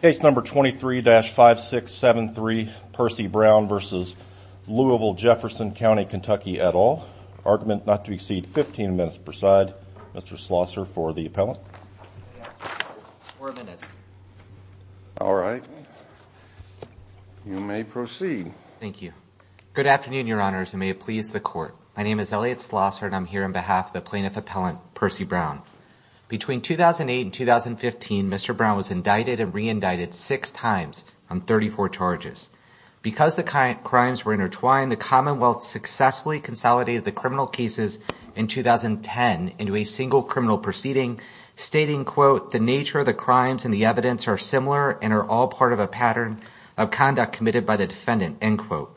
Case number 23-5673, Percy Brown v. Louisville-Jefferson Co KY et al. Argument not to exceed 15 minutes per side. Mr. Slosser for the appellant. All right. You may proceed. Thank you. Good afternoon, Your Honors, and may it please the Court. My name is Elliot Slosser, and I'm here on behalf of the Plaintiff Appellant, Percy Brown. Between 2008 and 2015, Mr. Brown was indicted and re-indicted six times on 34 charges. Because the crimes were intertwined, the Commonwealth successfully consolidated the criminal cases in 2010 into a single criminal proceeding, stating, quote, the nature of the crimes and the evidence are similar and are all part of a pattern of conduct committed by the defendant, end quote.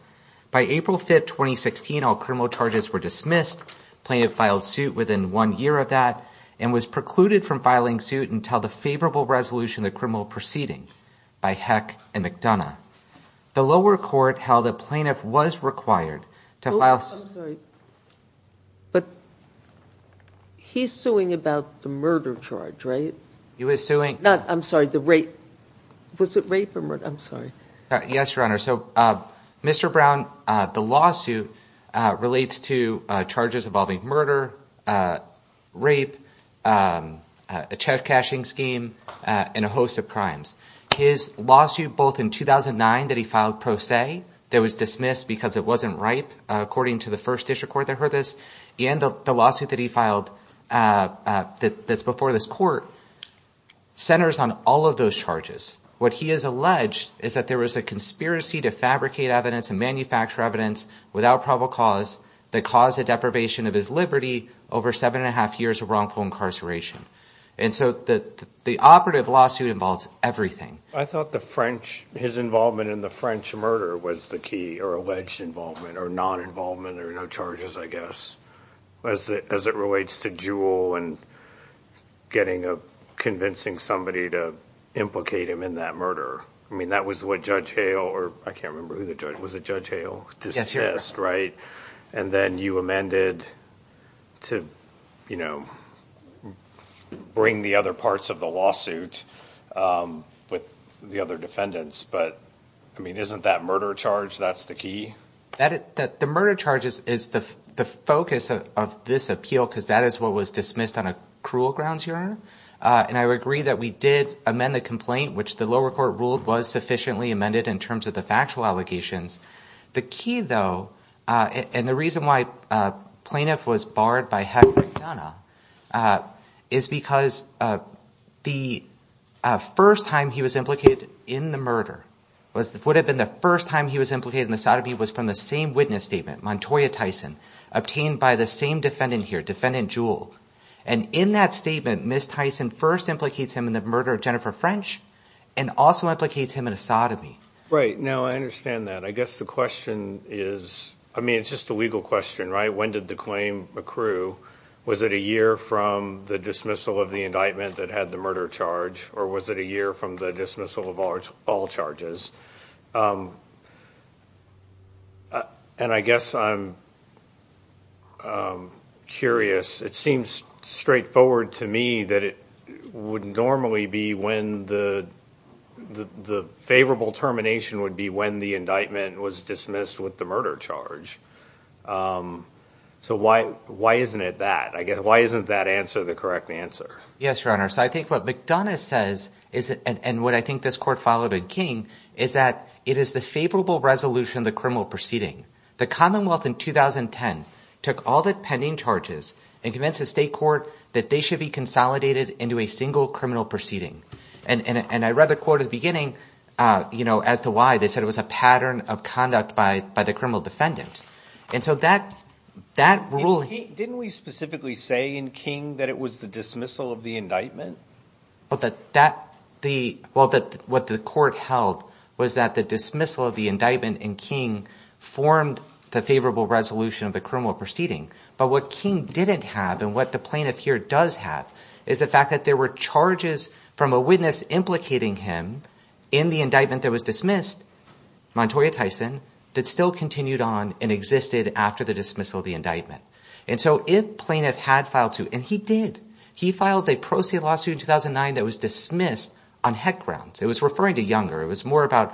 By April 5, 2016, all criminal charges were dismissed. Plaintiff filed suit within one year of that and was precluded from filing suit until the favorable resolution of the criminal proceeding by Heck and McDonough. The lower court held the plaintiff was required to file... Oh, I'm sorry. But he's suing about the murder charge, right? He was suing... No, I'm sorry, the rape. Was it rape or murder? I'm sorry. Yes, Your Honor. So Mr. Brown, the lawsuit relates to charges involving murder, rape, a check cashing scheme, and a host of crimes. His lawsuit, both in 2009 that he filed pro se, that was dismissed because it wasn't ripe, according to the first district court that heard this, and the lawsuit that he filed that's before this court, centers on all of those charges. What he has alleged is that there was a conspiracy to fabricate evidence and manufacture evidence without probable cause that caused a deprivation of his liberty over seven and a half years of wrongful incarceration. And so the operative lawsuit involves everything. I thought his involvement in the French murder was the key, or alleged involvement, or non-involvement, or no charges, I guess, as it relates to Jewell and convincing somebody to implicate him in that murder. I mean, that was what Judge Hale, or I can't remember who the judge was, was it Judge Hale, dismissed, right? And then you amended to bring the other parts of the lawsuit with the other defendants. But I mean, isn't that murder charge, that's the key? The murder charge is the focus of this appeal because that is what was dismissed on a which the lower court ruled was sufficiently amended in terms of the factual allegations. The key, though, and the reason why Plaintiff was barred by Heather McDonough, is because the first time he was implicated in the murder, what would have been the first time he was implicated in the sodomy was from the same witness statement, Montoya Tyson, obtained by the same defendant here, Defendant Jewell. And in that statement, Ms. Tyson first implicates him in the murder of Jennifer French, and also implicates him in a sodomy. Right. Now, I understand that. I guess the question is, I mean, it's just a legal question, right? When did the claim accrue? Was it a year from the dismissal of the indictment that had the murder charge? Or was it a year from the dismissal of all charges? And I guess I'm curious. It seems straightforward to me that it would normally be when the favorable termination would be when the indictment was dismissed with the murder charge. So why isn't it that? I guess, why isn't that answer the correct answer? Yes, Your Honor. So I think what McDonough says is, and what I think this court followed in King, is that it is the favorable resolution of the The Commonwealth in 2010 took all the pending charges and convinced the state court that they should be consolidated into a single criminal proceeding. And I read the court at the beginning as to why they said it was a pattern of conduct by the criminal defendant. And so that rule... Didn't we specifically say in King that it was the dismissal of the indictment? But what the court held was that the dismissal of the indictment in King formed the favorable resolution of the criminal proceeding. But what King didn't have, and what the plaintiff here does have, is the fact that there were charges from a witness implicating him in the indictment that was dismissed, Montoya Tyson, that still continued on and existed after the dismissal of the indictment. And so if plaintiff had filed to, and he did, he filed a pro se lawsuit in 2009 that was dismissed on heck grounds. It was referring to Younger. It was more about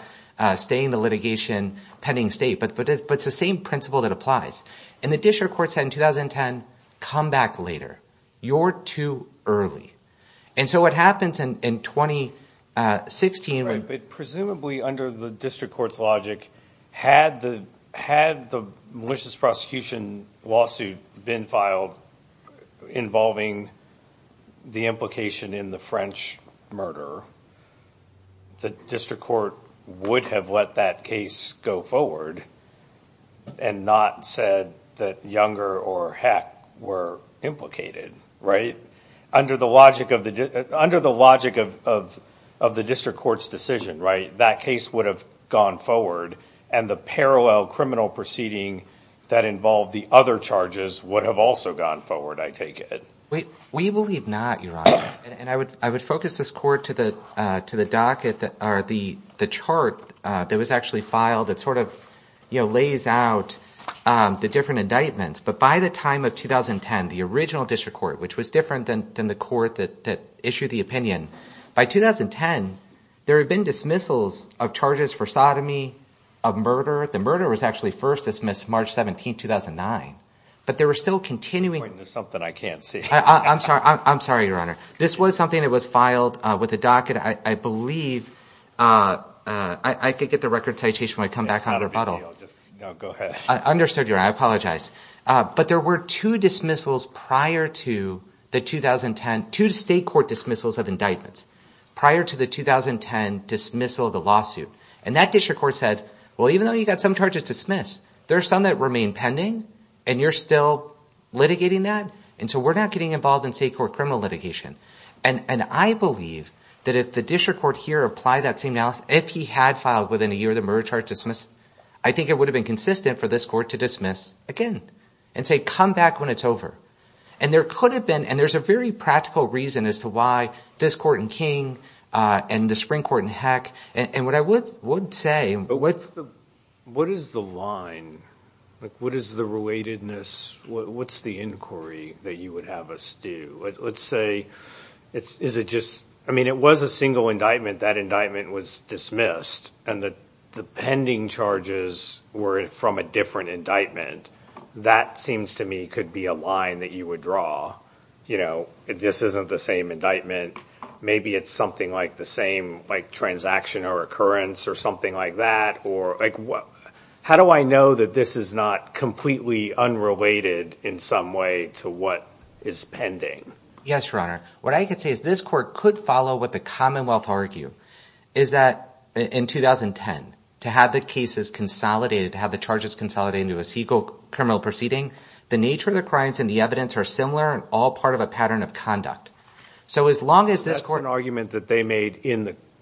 staying the litigation pending state, but it's the same principle that applies. And the district court said in 2010, come back later. You're too early. And so what happens in 2016... Right, but presumably under the district court's logic, had the malicious prosecution lawsuit been filed involving the implication in the French murder, the district court would have let that case go forward and not said that Younger or Heck were implicated. Under the logic of the district court's decision, that case would have gone forward and the parallel criminal proceeding that involved the other charges would have also gone forward, I take it. We believe not, Your Honor. And I would focus this court to the docket or the chart that was actually filed that sort of lays out the different indictments. But by the time of 2010, the original district court, which was different than the court that issued the opinion, by 2010, there had been dismissals of charges for sodomy, of murder. The murder was actually first dismissed March 17th, 2009, but there were still continuing... There's something I can't see. I'm sorry, Your Honor. This was something that was filed with the docket, I believe. I could get the record citation when I come back on rebuttal. No, go ahead. I understood your... I apologize. But there were two dismissals prior to the 2010... Two state court dismissals of indictments prior to the 2010 dismissal of the lawsuit. And that district court said, well, even though you got some charges dismissed, there are some that remain pending and you're still litigating that. And so we're not getting involved in state court criminal litigation. And I believe that if the district court here applied that same analysis, if he had filed within a year of the murder charge dismissed, I think it would have been consistent for this to dismiss again and say, come back when it's over. And there could have been... And there's a very practical reason as to why this court in King and the Supreme Court in Heck... And what I would say... But what's the... What is the line? What is the relatedness? What's the inquiry that you would have us do? Let's say, is it just... I mean, it was a single indictment. That indictment was dismissed and the pending charges were from a different indictment. That seems to me, could be a line that you would draw. If this isn't the same indictment, maybe it's something like the same transaction or occurrence or something like that. How do I know that this is not completely unrelated in some way to what is pending? Yes, Your Honor. What I could say is this court could follow what the Commonwealth argue, is that in 2010, to have the cases consolidated, to have the charges consolidated into a single criminal proceeding, the nature of the crimes and the evidence are similar and all part of a pattern of conduct. So as long as this court... That's an argument that they made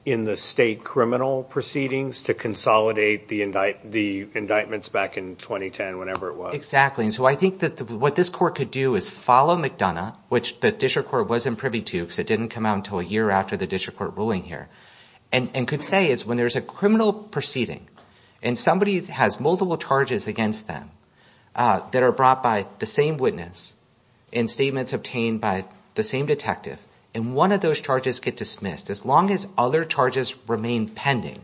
in the state criminal proceedings to consolidate the indictments back in 2010, whenever it was. Exactly. And so I think that what this court could do is follow McDonough, which the district court wasn't privy to because it didn't come out until a year after the district court ruling here, and could say is when there's a criminal proceeding and somebody has multiple charges against them that are brought by the same witness and statements obtained by the same detective, and one of those charges get dismissed, as long as other charges remain pending,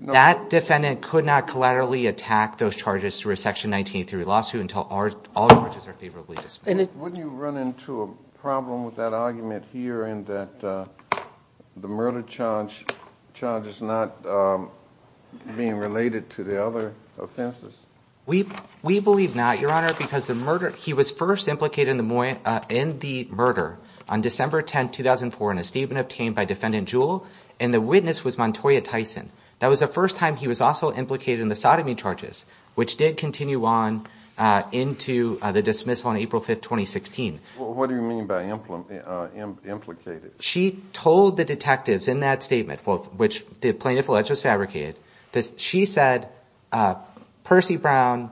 that defendant could not collaterally attack those charges through a section 1983 lawsuit until all charges are favorably dismissed. Wouldn't you run into a problem with that argument here in that the murder charge is not being related to the other offenses? We believe not, Your Honor, because the murder... He was first implicated in the murder on December 10, 2004 in a statement obtained by Defendant Jewell, and the witness was Montoya which did continue on into the dismissal on April 5, 2016. What do you mean by implicated? She told the detectives in that statement, which the plaintiff alleged was fabricated, that she said Percy Brown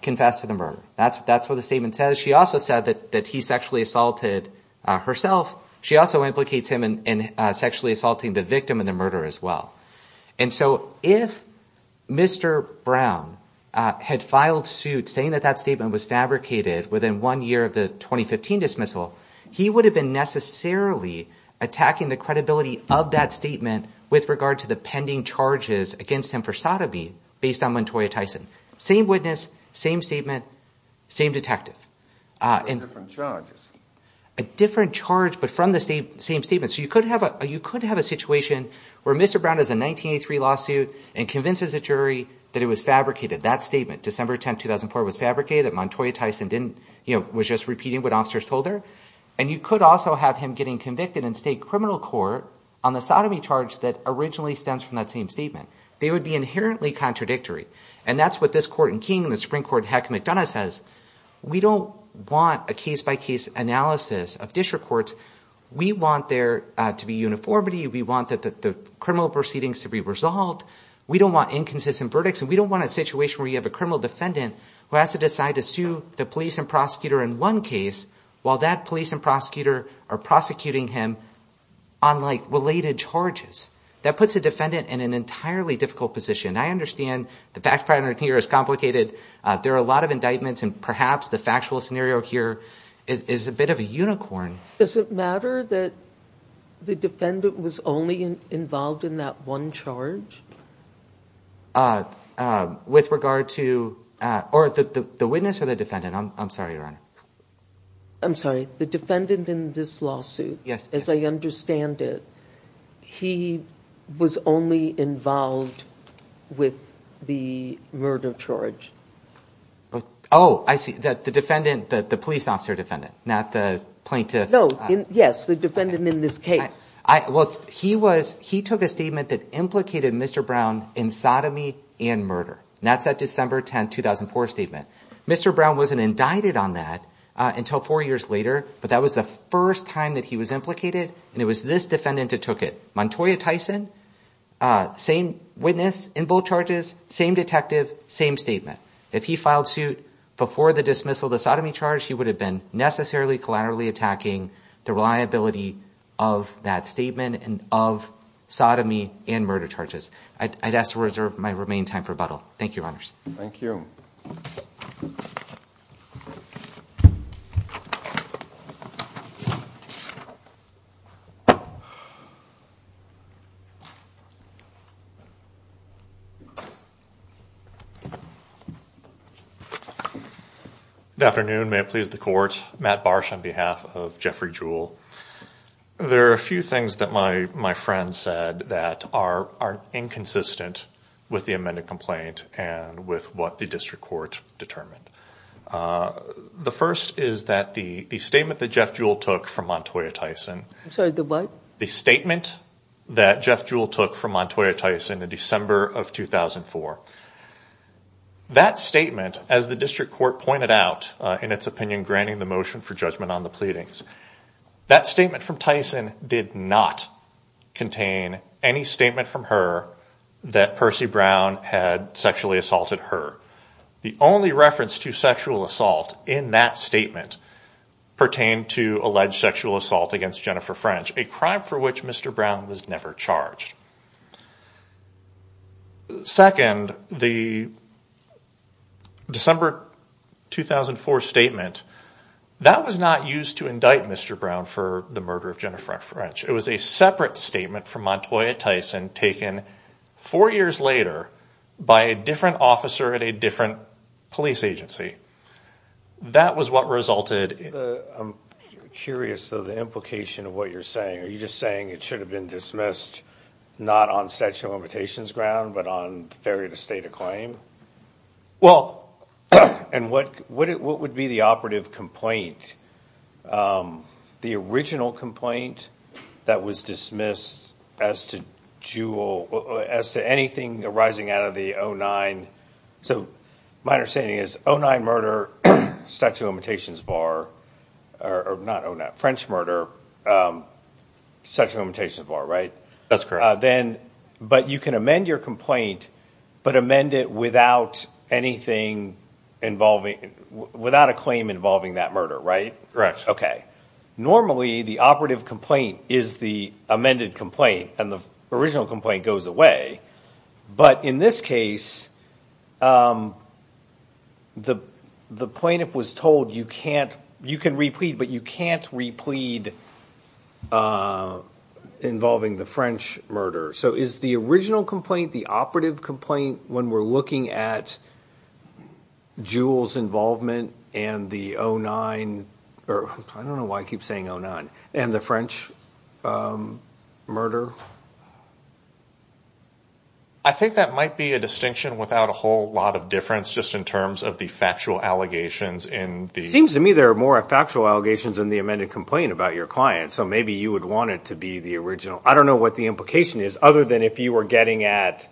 confessed to the murder. That's what the statement says. She also said that he sexually assaulted herself. She also implicates him in sexually had filed suit saying that that statement was fabricated within one year of the 2015 dismissal, he would have been necessarily attacking the credibility of that statement with regard to the pending charges against him for sodomy based on Montoya Tyson. Same witness, same statement, same detective. A different charge, but from the same statement. So you could have a situation where Mr. Brown has a 1983 lawsuit and convinces a jury that it was fabricated, that statement, December 10, 2004 was fabricated, that Montoya Tyson was just repeating what officers told her. And you could also have him getting convicted in state criminal court on the sodomy charge that originally stems from that same statement. They would be inherently contradictory. And that's what this court in King and the Supreme Court, Heck McDonough, says. We don't want a case-by-case analysis of district courts. We want there to be uniformity. We want the criminal proceedings to be resolved. We don't want inconsistent verdicts. And we don't want a situation where you have a criminal defendant who has to decide to sue the police and prosecutor in one case while that police and prosecutor are prosecuting him on related charges. That puts a defendant in an entirely difficult position. I understand the fact pattern here is complicated. There are a lot of indictments and perhaps the factual scenario here is a bit of unicorn. Does it matter that the defendant was only involved in that one charge? With regard to the witness or the defendant? I'm sorry, Your Honor. I'm sorry. The defendant in this lawsuit, as I understand it, he was only involved with the murder charge. Oh, I see. The police officer defendant, not the plaintiff. Yes, the defendant in this case. He took a statement that implicated Mr. Brown in sodomy and murder. That's that December 10, 2004 statement. Mr. Brown wasn't indicted on that until four years later, but that was the first time that he was implicated and it was this defendant that took it. Montoya witness in both charges, same detective, same statement. If he filed suit before the dismissal, the sodomy charge, he would have been necessarily collaterally attacking the reliability of that statement and of sodomy and murder charges. I'd ask to reserve my remain time for rebuttal. Thank you, Your Honors. Thank you. Good afternoon. May it please the court. Matt Barsh on behalf of Jeffrey Jewell. There are a few things that my friend said that are inconsistent with the amended complaint and with what the district court determined. The first is that the statement that Jeff Jewell took from Montoya Tyson. I'm sorry, the what? The statement that Jeff Jewell took from Montoya Tyson in December of 2004. That statement, as the district court pointed out in its opinion, granting the motion for judgment on the pleadings, that statement from Tyson did not contain any statement from her that Percy Brown had sexually assaulted her. The only reference to sexual assault against Jennifer French, a crime for which Mr. Brown was never charged. Second, the December 2004 statement, that was not used to indict Mr. Brown for the murder of Jennifer French. It was a separate statement from Montoya Tyson taken four years later by a different different police agency. That was what resulted. I'm curious of the implication of what you're saying. Are you just saying it should have been dismissed not on statute of limitations ground, but on failure to state a claim? Well, and what would be the operative complaint? The original complaint that was dismissed as to Jewell, as to anything arising out of the 09, so my understanding is 09 murder, statute of limitations bar, or not 09, French murder, statute of limitations bar, right? That's correct. Then, but you can amend your complaint, but amend it without anything involving, without a claim involving that murder, right? Correct. Okay. Normally, the operative complaint is the amended complaint and the original complaint goes away, but in this case, the plaintiff was told you can't, you can replete, but you can't replete involving the French murder. So is the original complaint, the operative complaint, when we're looking at Jewell's involvement and the 09, or I don't know why I keep saying 09, and the French murder? I think that might be a distinction without a whole lot of difference, just in terms of the factual allegations in the- Seems to me there are more factual allegations in the amended complaint about your client. So maybe you would want it to be the original. I don't know what the implication is other than if you were getting at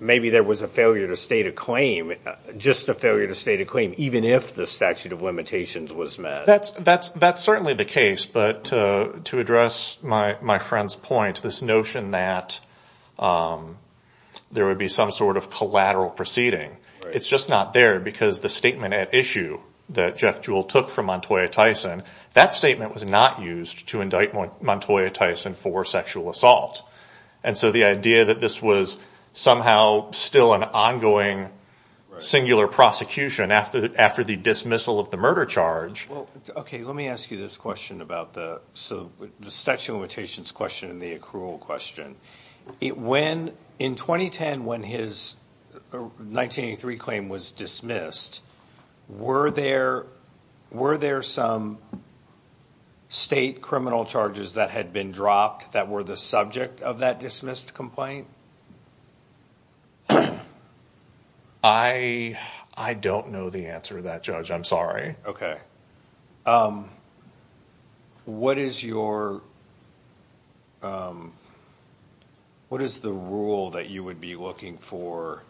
maybe there was a failure to state a claim, just a failure to state a claim, even if the statute of limitations was met. That's certainly the case, but to address my friend's point, this notion that there would be some sort of collateral proceeding, it's just not there because the statement at issue that Jeff Jewell took from Montoya Tyson, that statement was not used to indict Montoya Tyson for sexual assault. And so the idea that this was somehow still an ongoing singular prosecution after the dismissal of the murder charge- Okay, let me ask you this question about the statute of limitations question and the accrual question. In 2010, when his 1983 claim was dismissed, were there some state criminal charges that had been dropped that were the subject of that dismissed complaint? I don't know the answer to that, Judge. I'm sorry. Okay. Okay. What is the rule that you would be looking for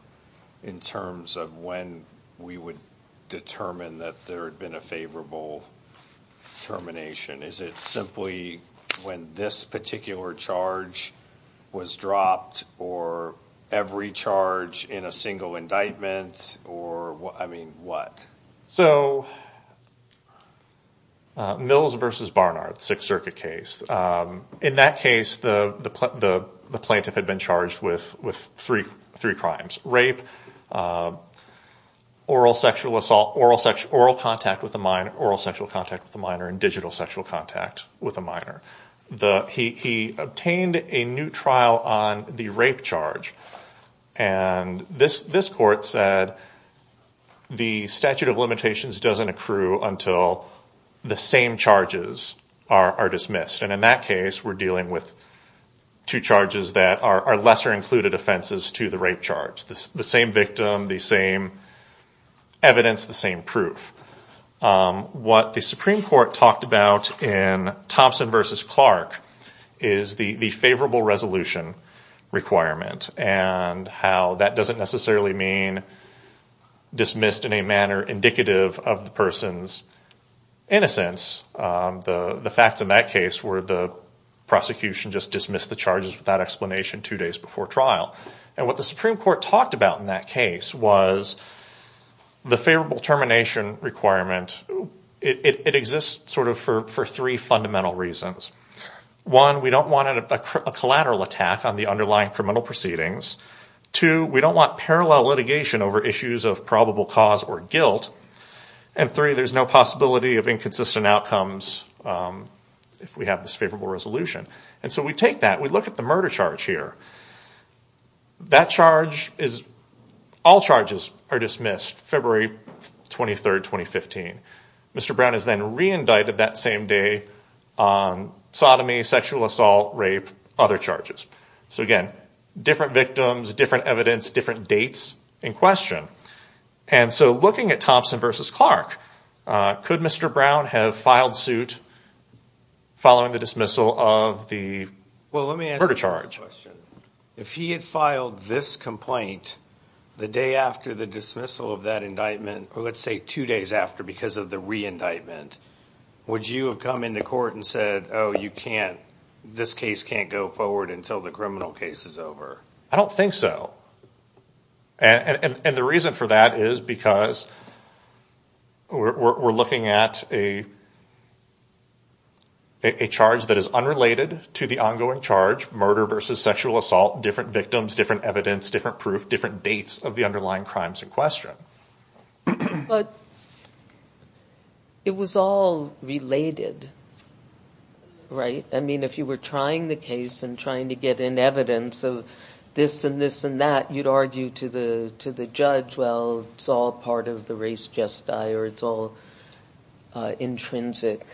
in terms of when we would determine that there had been a favorable termination? Is it simply when this particular charge was dropped or every charge in a single indictment or what? I mean, what? Mills v. Barnard, Sixth Circuit case. In that case, the plaintiff had been charged with three crimes, rape, oral sexual assault, oral contact with a minor, oral sexual contact with a minor, digital sexual contact with a minor. He obtained a new trial on the rape charge. And this court said the statute of limitations doesn't accrue until the same charges are dismissed. And in that case, we're dealing with two charges that are lesser included offenses to the rape charge. The same victim, the same evidence, the same proof. What the Supreme Court talked about in Thompson v. Clark is the favorable resolution requirement and how that doesn't necessarily mean dismissed in a manner indicative of the person's innocence. The facts in that case were the prosecution just dismissed the charges without explanation two days before trial. And what the Supreme Court talked about in that case was the favorable termination requirement. It exists sort of for three fundamental reasons. One, we don't want a collateral attack on the underlying criminal proceedings. Two, we don't want parallel litigation over issues of probable cause or guilt. And three, there's no possibility of inconsistent outcomes if we have this favorable resolution. And so we take that, we look at the murder charge here. That charge is, all charges are dismissed February 23, 2015. Mr. Brown is then re-indicted that same day on sodomy, sexual assault, rape, other charges. So again, different victims, different evidence, different dates in question. And so looking at Thompson v. Clark, could Mr. Brown have filed suit following the dismissal of the murder charge? Well, let me ask you a question. If he had filed this complaint the day after the dismissal of that indictment, or let's say two days after because of the re-indictment, would you have come into court and said, oh, you can't, this case can't go forward until the criminal case is over? I don't think so. And the reason for that is because we're looking at a charge that is unrelated to the ongoing charge, murder versus sexual assault, different victims, different evidence, different proof, different dates of the underlying case and trying to get in evidence of this and this and that, you'd argue to the judge, well, it's all part of the race just die, or it's all intrinsic.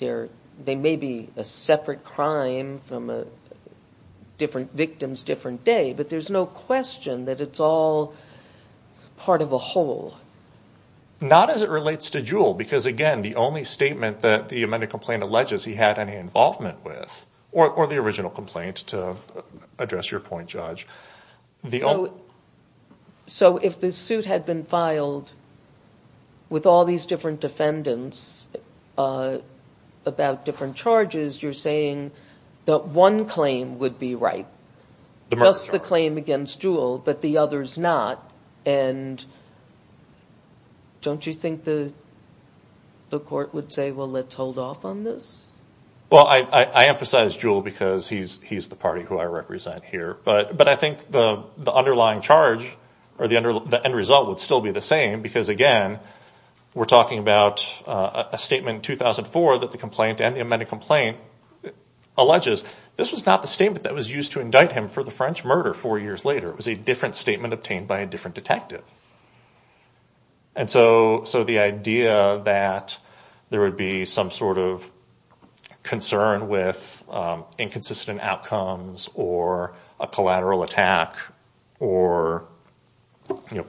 They may be a separate crime from a different victim's different day, but there's no question that it's all part of a whole. Not as it relates to Jewell, because again, the only statement that the amended complaint alleges he had any involvement with, or the original complaint, to address your point, Judge. So if the suit had been filed with all these different defendants about different charges, you're saying that one claim would be right, just the claim against Jewell, but the others not, and don't you think the the court would say, well, let's hold off on this? Well, I emphasize Jewell because he's the party who I represent here, but I think the underlying charge or the end result would still be the same, because again, we're talking about a statement in 2004 that the complaint and the amended complaint alleges. This was not the statement that was used to indict him for the French murder four years later. It was a different statement obtained by a different detective. And so the idea that there would be some sort of concern with inconsistent outcomes or a collateral attack or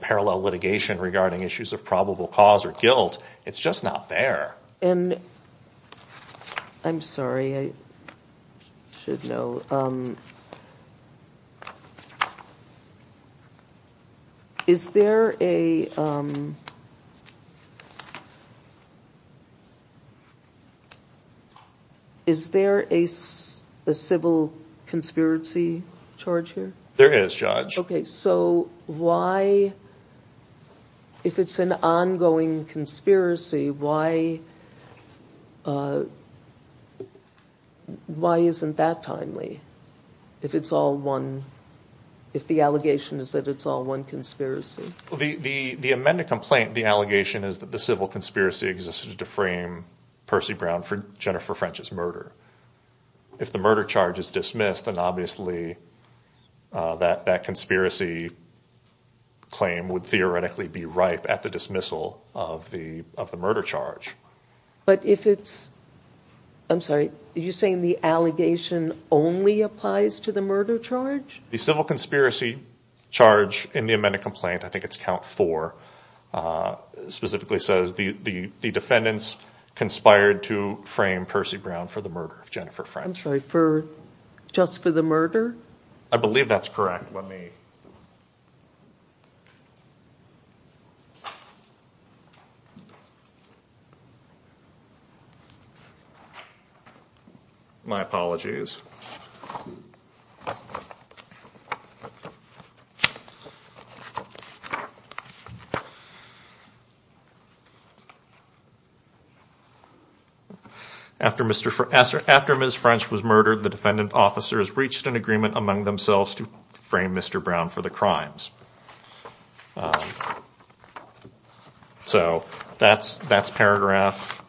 parallel litigation regarding issues of probable cause or guilt, it's just not there. I'm sorry, I should know. Is there a is there a civil conspiracy charge here? There is, Judge. Okay, so why, if it's an ongoing conspiracy, why isn't that timely, if it's all one, if the allegation is that it's all one conspiracy? Well, the amended complaint, the allegation is that the civil conspiracy existed to frame Percy Brown for Jennifer French's murder. If the murder charge is dismissed, then obviously that conspiracy claim would theoretically be ripe at the dismissal of the murder charge. But if it's, I'm sorry, are you saying the allegation only applies to the murder charge? The civil conspiracy charge in the amended complaint, I think it's count four, specifically says the defendants conspired to frame Percy Brown for the murder of Jennifer French. I'm sorry, just for the murder? I believe that's correct. My apologies. After Ms. French was murdered, the defendant officers reached an agreement among themselves to frame Mr. Brown for the crimes. So that's paragraph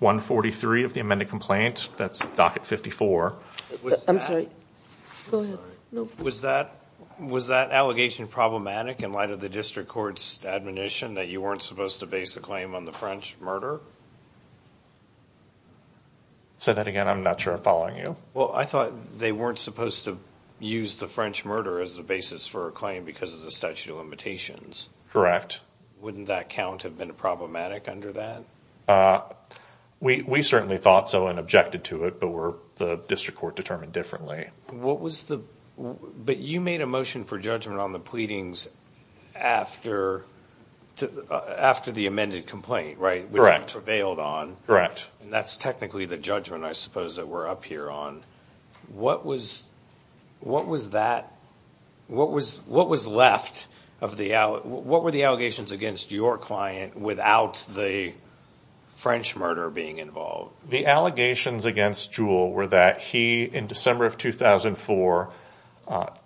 143 of the amended complaint, that's docket 54. I'm sorry, go ahead. Was that allegation problematic in light of the district court's admonition that you weren't supposed to base the claim on the French murder? Say that again, I'm not sure I'm following you. Well, I thought they weren't supposed to use the French murder as the basis for a claim because of the statute of limitations. Correct. Wouldn't that count have been problematic under that? We certainly thought so and objected to it, but the district court determined differently. But you made a motion for judgment on the pleadings after the amended complaint, right? Correct. Which you prevailed on. That's technically the judgment, I suppose, that we're up here on. What was left? What were the allegations against your client without the French murder being involved? The allegations against Jewell were that he, in December of 2004,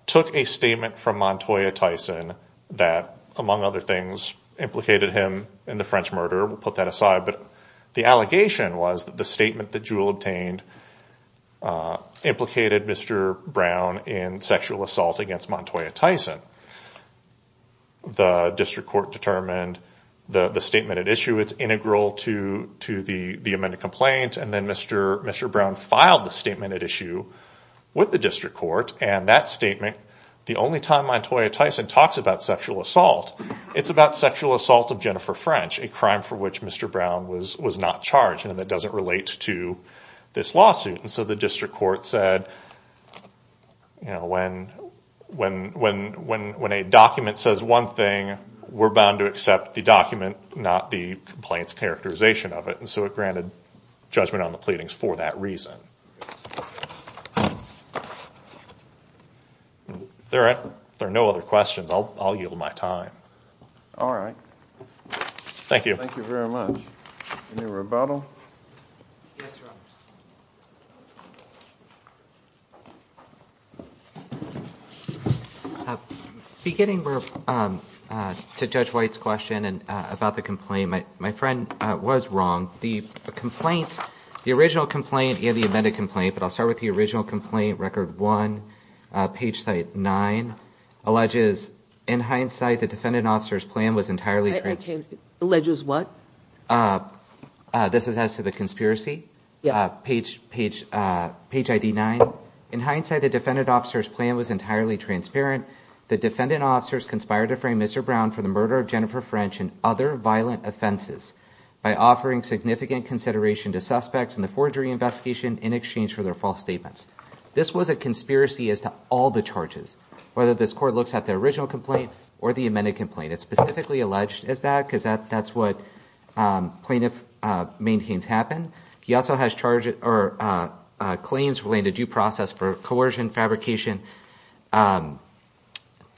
took a statement from Montoya Tyson that, among other things, implicated him in the French murder. We'll put that aside. But the allegation was that the statement that Jewell obtained implicated Mr. Brown in sexual assault against Montoya Tyson. The district court determined the statement at issue was integral to the amended complaint, and then Mr. Brown filed the statement at issue with the district court. And that statement, the only time Montoya Tyson talks about sexual assault, it's about sexual assault of Jennifer French, a crime for which Mr. Brown was not charged, and it doesn't relate to this lawsuit. And so the district court said when a document says one thing, we're bound to accept the document, not the complaint's characterization of it. And so it granted judgment on the pleadings for that reason. If there are no other questions, I'll yield my time. All right. Thank you. Thank you very much. Any rebuttal? Beginning to Judge White's question about the complaint, my friend was wrong. The original complaint and the amended complaint, but I'll start with the original complaint, record one, page site nine, alleges, in hindsight, the defendant officer's plan was entirely transparent. Alleges what? This is as to the conspiracy? Yeah. Page ID nine. In hindsight, the defendant officer's plan was entirely transparent. The defendant officers conspired to frame Mr. Brown for the murder of Jennifer French and other violent offenses by offering significant consideration to suspects in the forgery investigation in exchange for their false statements. This was a conspiracy as to all the charges, whether this court looks at the original complaint or the amended complaint. It's specifically alleged as that because that's what plaintiff maintains happened. He also has charges or claims related to due process for coercion, fabrication. And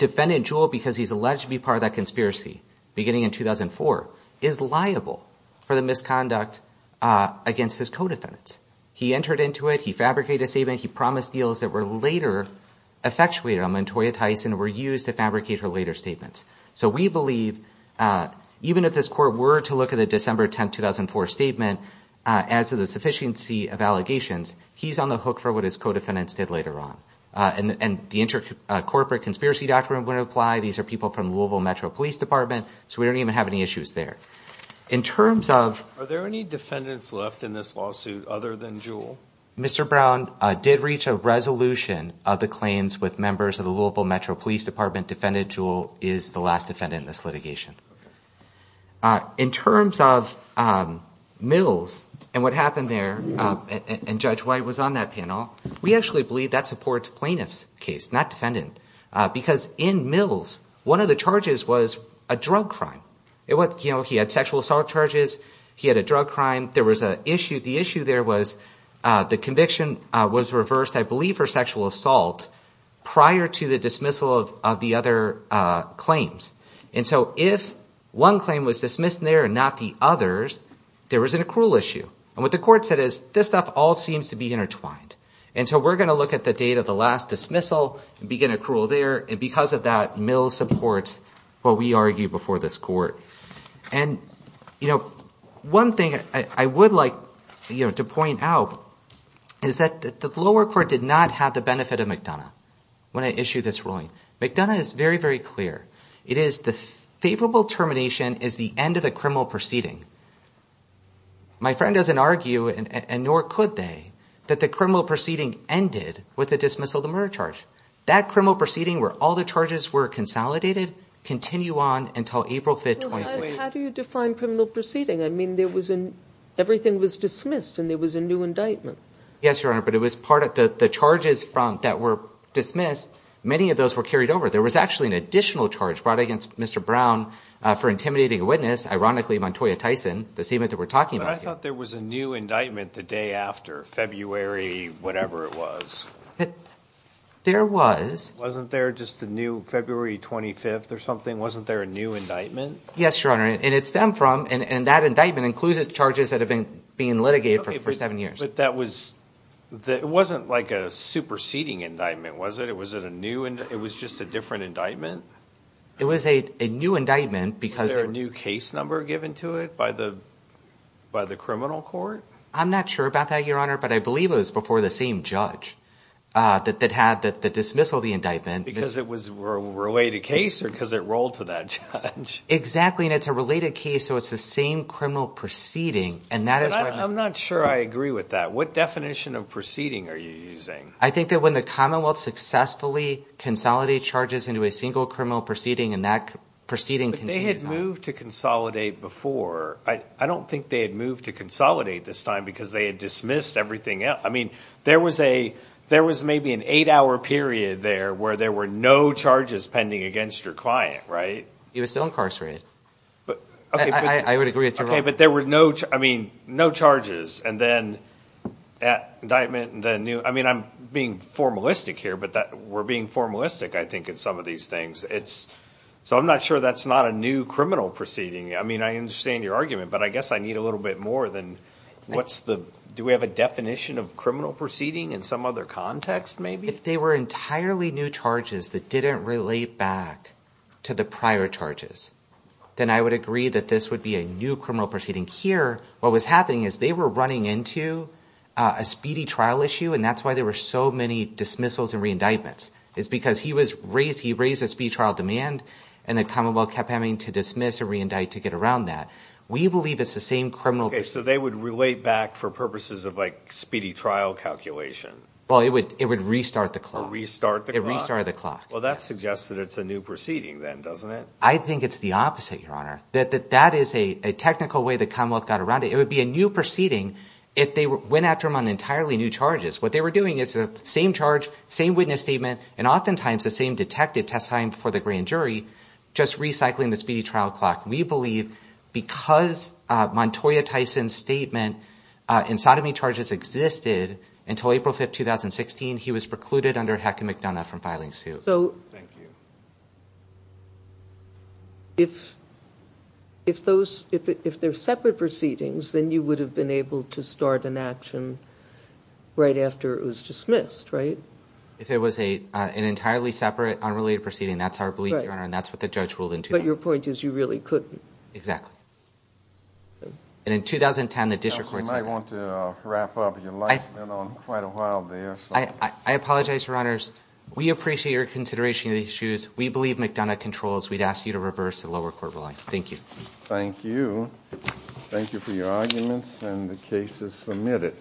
defendant Jewell, because he's alleged to be part of that conspiracy beginning in 2004, is liable for the misconduct against his co-defendants. He entered into it. He fabricated a statement. He promised deals that were later effectuated on Montoya Tyson were used to fabricate her later statements. So we believe, even if this court were to look at the December 10, 2004 statement as to the sufficiency of allegations, he's on the hook for what his co-defendants did and the corporate conspiracy doctrine would apply. These are people from the Louisville Metro Police Department, so we don't even have any issues there. Are there any defendants left in this lawsuit other than Jewell? Mr. Brown did reach a resolution of the claims with members of the Louisville Metro Police Department. Defendant Jewell is the last defendant in this litigation. In terms of Mills and what happened there, and Judge White was on that panel, we actually believe that supports plaintiff's case, not defendant, because in Mills, one of the charges was a drug crime. He had sexual assault charges. He had a drug crime. The issue there was the conviction was reversed, I believe, for sexual assault prior to the dismissal of the other claims. And so if one claim was dismissed there and not the others, there was an accrual issue. And what the court said is, this stuff all seems to be and so we're going to look at the date of the last dismissal and begin accrual there. And because of that, Mills supports what we argued before this court. And one thing I would like to point out is that the lower court did not have the benefit of McDonough when I issued this ruling. McDonough is very, very clear. It is the favorable termination is the end of the criminal proceeding. My friend doesn't argue, and nor could they, that the criminal proceeding ended with the dismissal of the murder charge. That criminal proceeding, where all the charges were consolidated, continue on until April 5th, 2016. How do you define criminal proceeding? I mean, everything was dismissed and there was a new indictment. Yes, Your Honor, but it was part of the charges that were dismissed. Many of those were carried over. There was actually an additional charge brought against Mr. Brown for intimidating a witness, ironically, Montoya Tyson, the statement that we're talking about here. I thought there was a new indictment the day after, February whatever it was. There was. Wasn't there just the new February 25th or something? Wasn't there a new indictment? Yes, Your Honor, and it stemmed from, and that indictment includes the charges that have been being litigated for seven years. But that was, it wasn't like a superseding indictment, was it? It was just a different indictment? It was a new indictment because... Was there a new case number given to it by the criminal court? I'm not sure about that, Your Honor, but I believe it was before the same judge that had the dismissal of the indictment. Because it was a related case or because it rolled to that judge? Exactly, and it's a related case, so it's the same criminal proceeding, and that is why... I'm not sure I agree with that. What definition of proceeding are you using? I think that when the Commonwealth successfully consolidated charges into a single criminal proceeding and that proceeding continues on. They had moved to consolidate before. I don't think they had moved to consolidate this time because they had dismissed everything else. I mean, there was maybe an eight-hour period there where there were no charges pending against your client, right? He was still incarcerated. I would agree with you, Your Honor. Okay, but there were no charges, and then indictment, and then new... I mean, I'm being formalistic here, but we're being formalistic, I think, in some of these things. So I'm not sure that's not a new criminal proceeding. I mean, I understand your argument, but I guess I need a little bit more than what's the... Do we have a definition of criminal proceeding in some other context, maybe? If they were entirely new charges that didn't relate back to the prior charges, then I would agree that this would be a new criminal proceeding. Here, what was happening is they were running into a speedy trial issue, and that's why there were so many dismissals and re-indictments. It's because he raised a speedy trial demand, and the Commonwealth kept having to dismiss and re-indict to get around that. We believe it's the same criminal... Okay, so they would relate back for purposes of speedy trial calculation. Well, it would restart the clock. Restart the clock? It restarted the clock. Well, that suggests that it's a new proceeding then, doesn't it? I think it's the opposite, Your Honor. That is a technical way the Commonwealth got around it. It would be a new proceeding if they went after him on entirely new charges. What they were is the same charge, same witness statement, and oftentimes the same detective testifying for the grand jury, just recycling the speedy trial clock. We believe because Montoya Tyson's statement in sodomy charges existed until April 5th, 2016, he was precluded under Heck and McDonough from filing suit. So if they're separate proceedings, then you would have been able to start an action right after it was dismissed, right? If it was an entirely separate, unrelated proceeding, that's our belief, Your Honor, and that's what the judge ruled in 2010. But your point is you really couldn't. Exactly. And in 2010, the district court said that. You might want to wrap up. Your life's been on quite a while there, so... I apologize, Your Honors. We appreciate your consideration of the issues. We believe McDonough controls. We'd ask you to reverse the lower court ruling. Thank you. Thank you. Thank you for your arguments, and the case is submitted.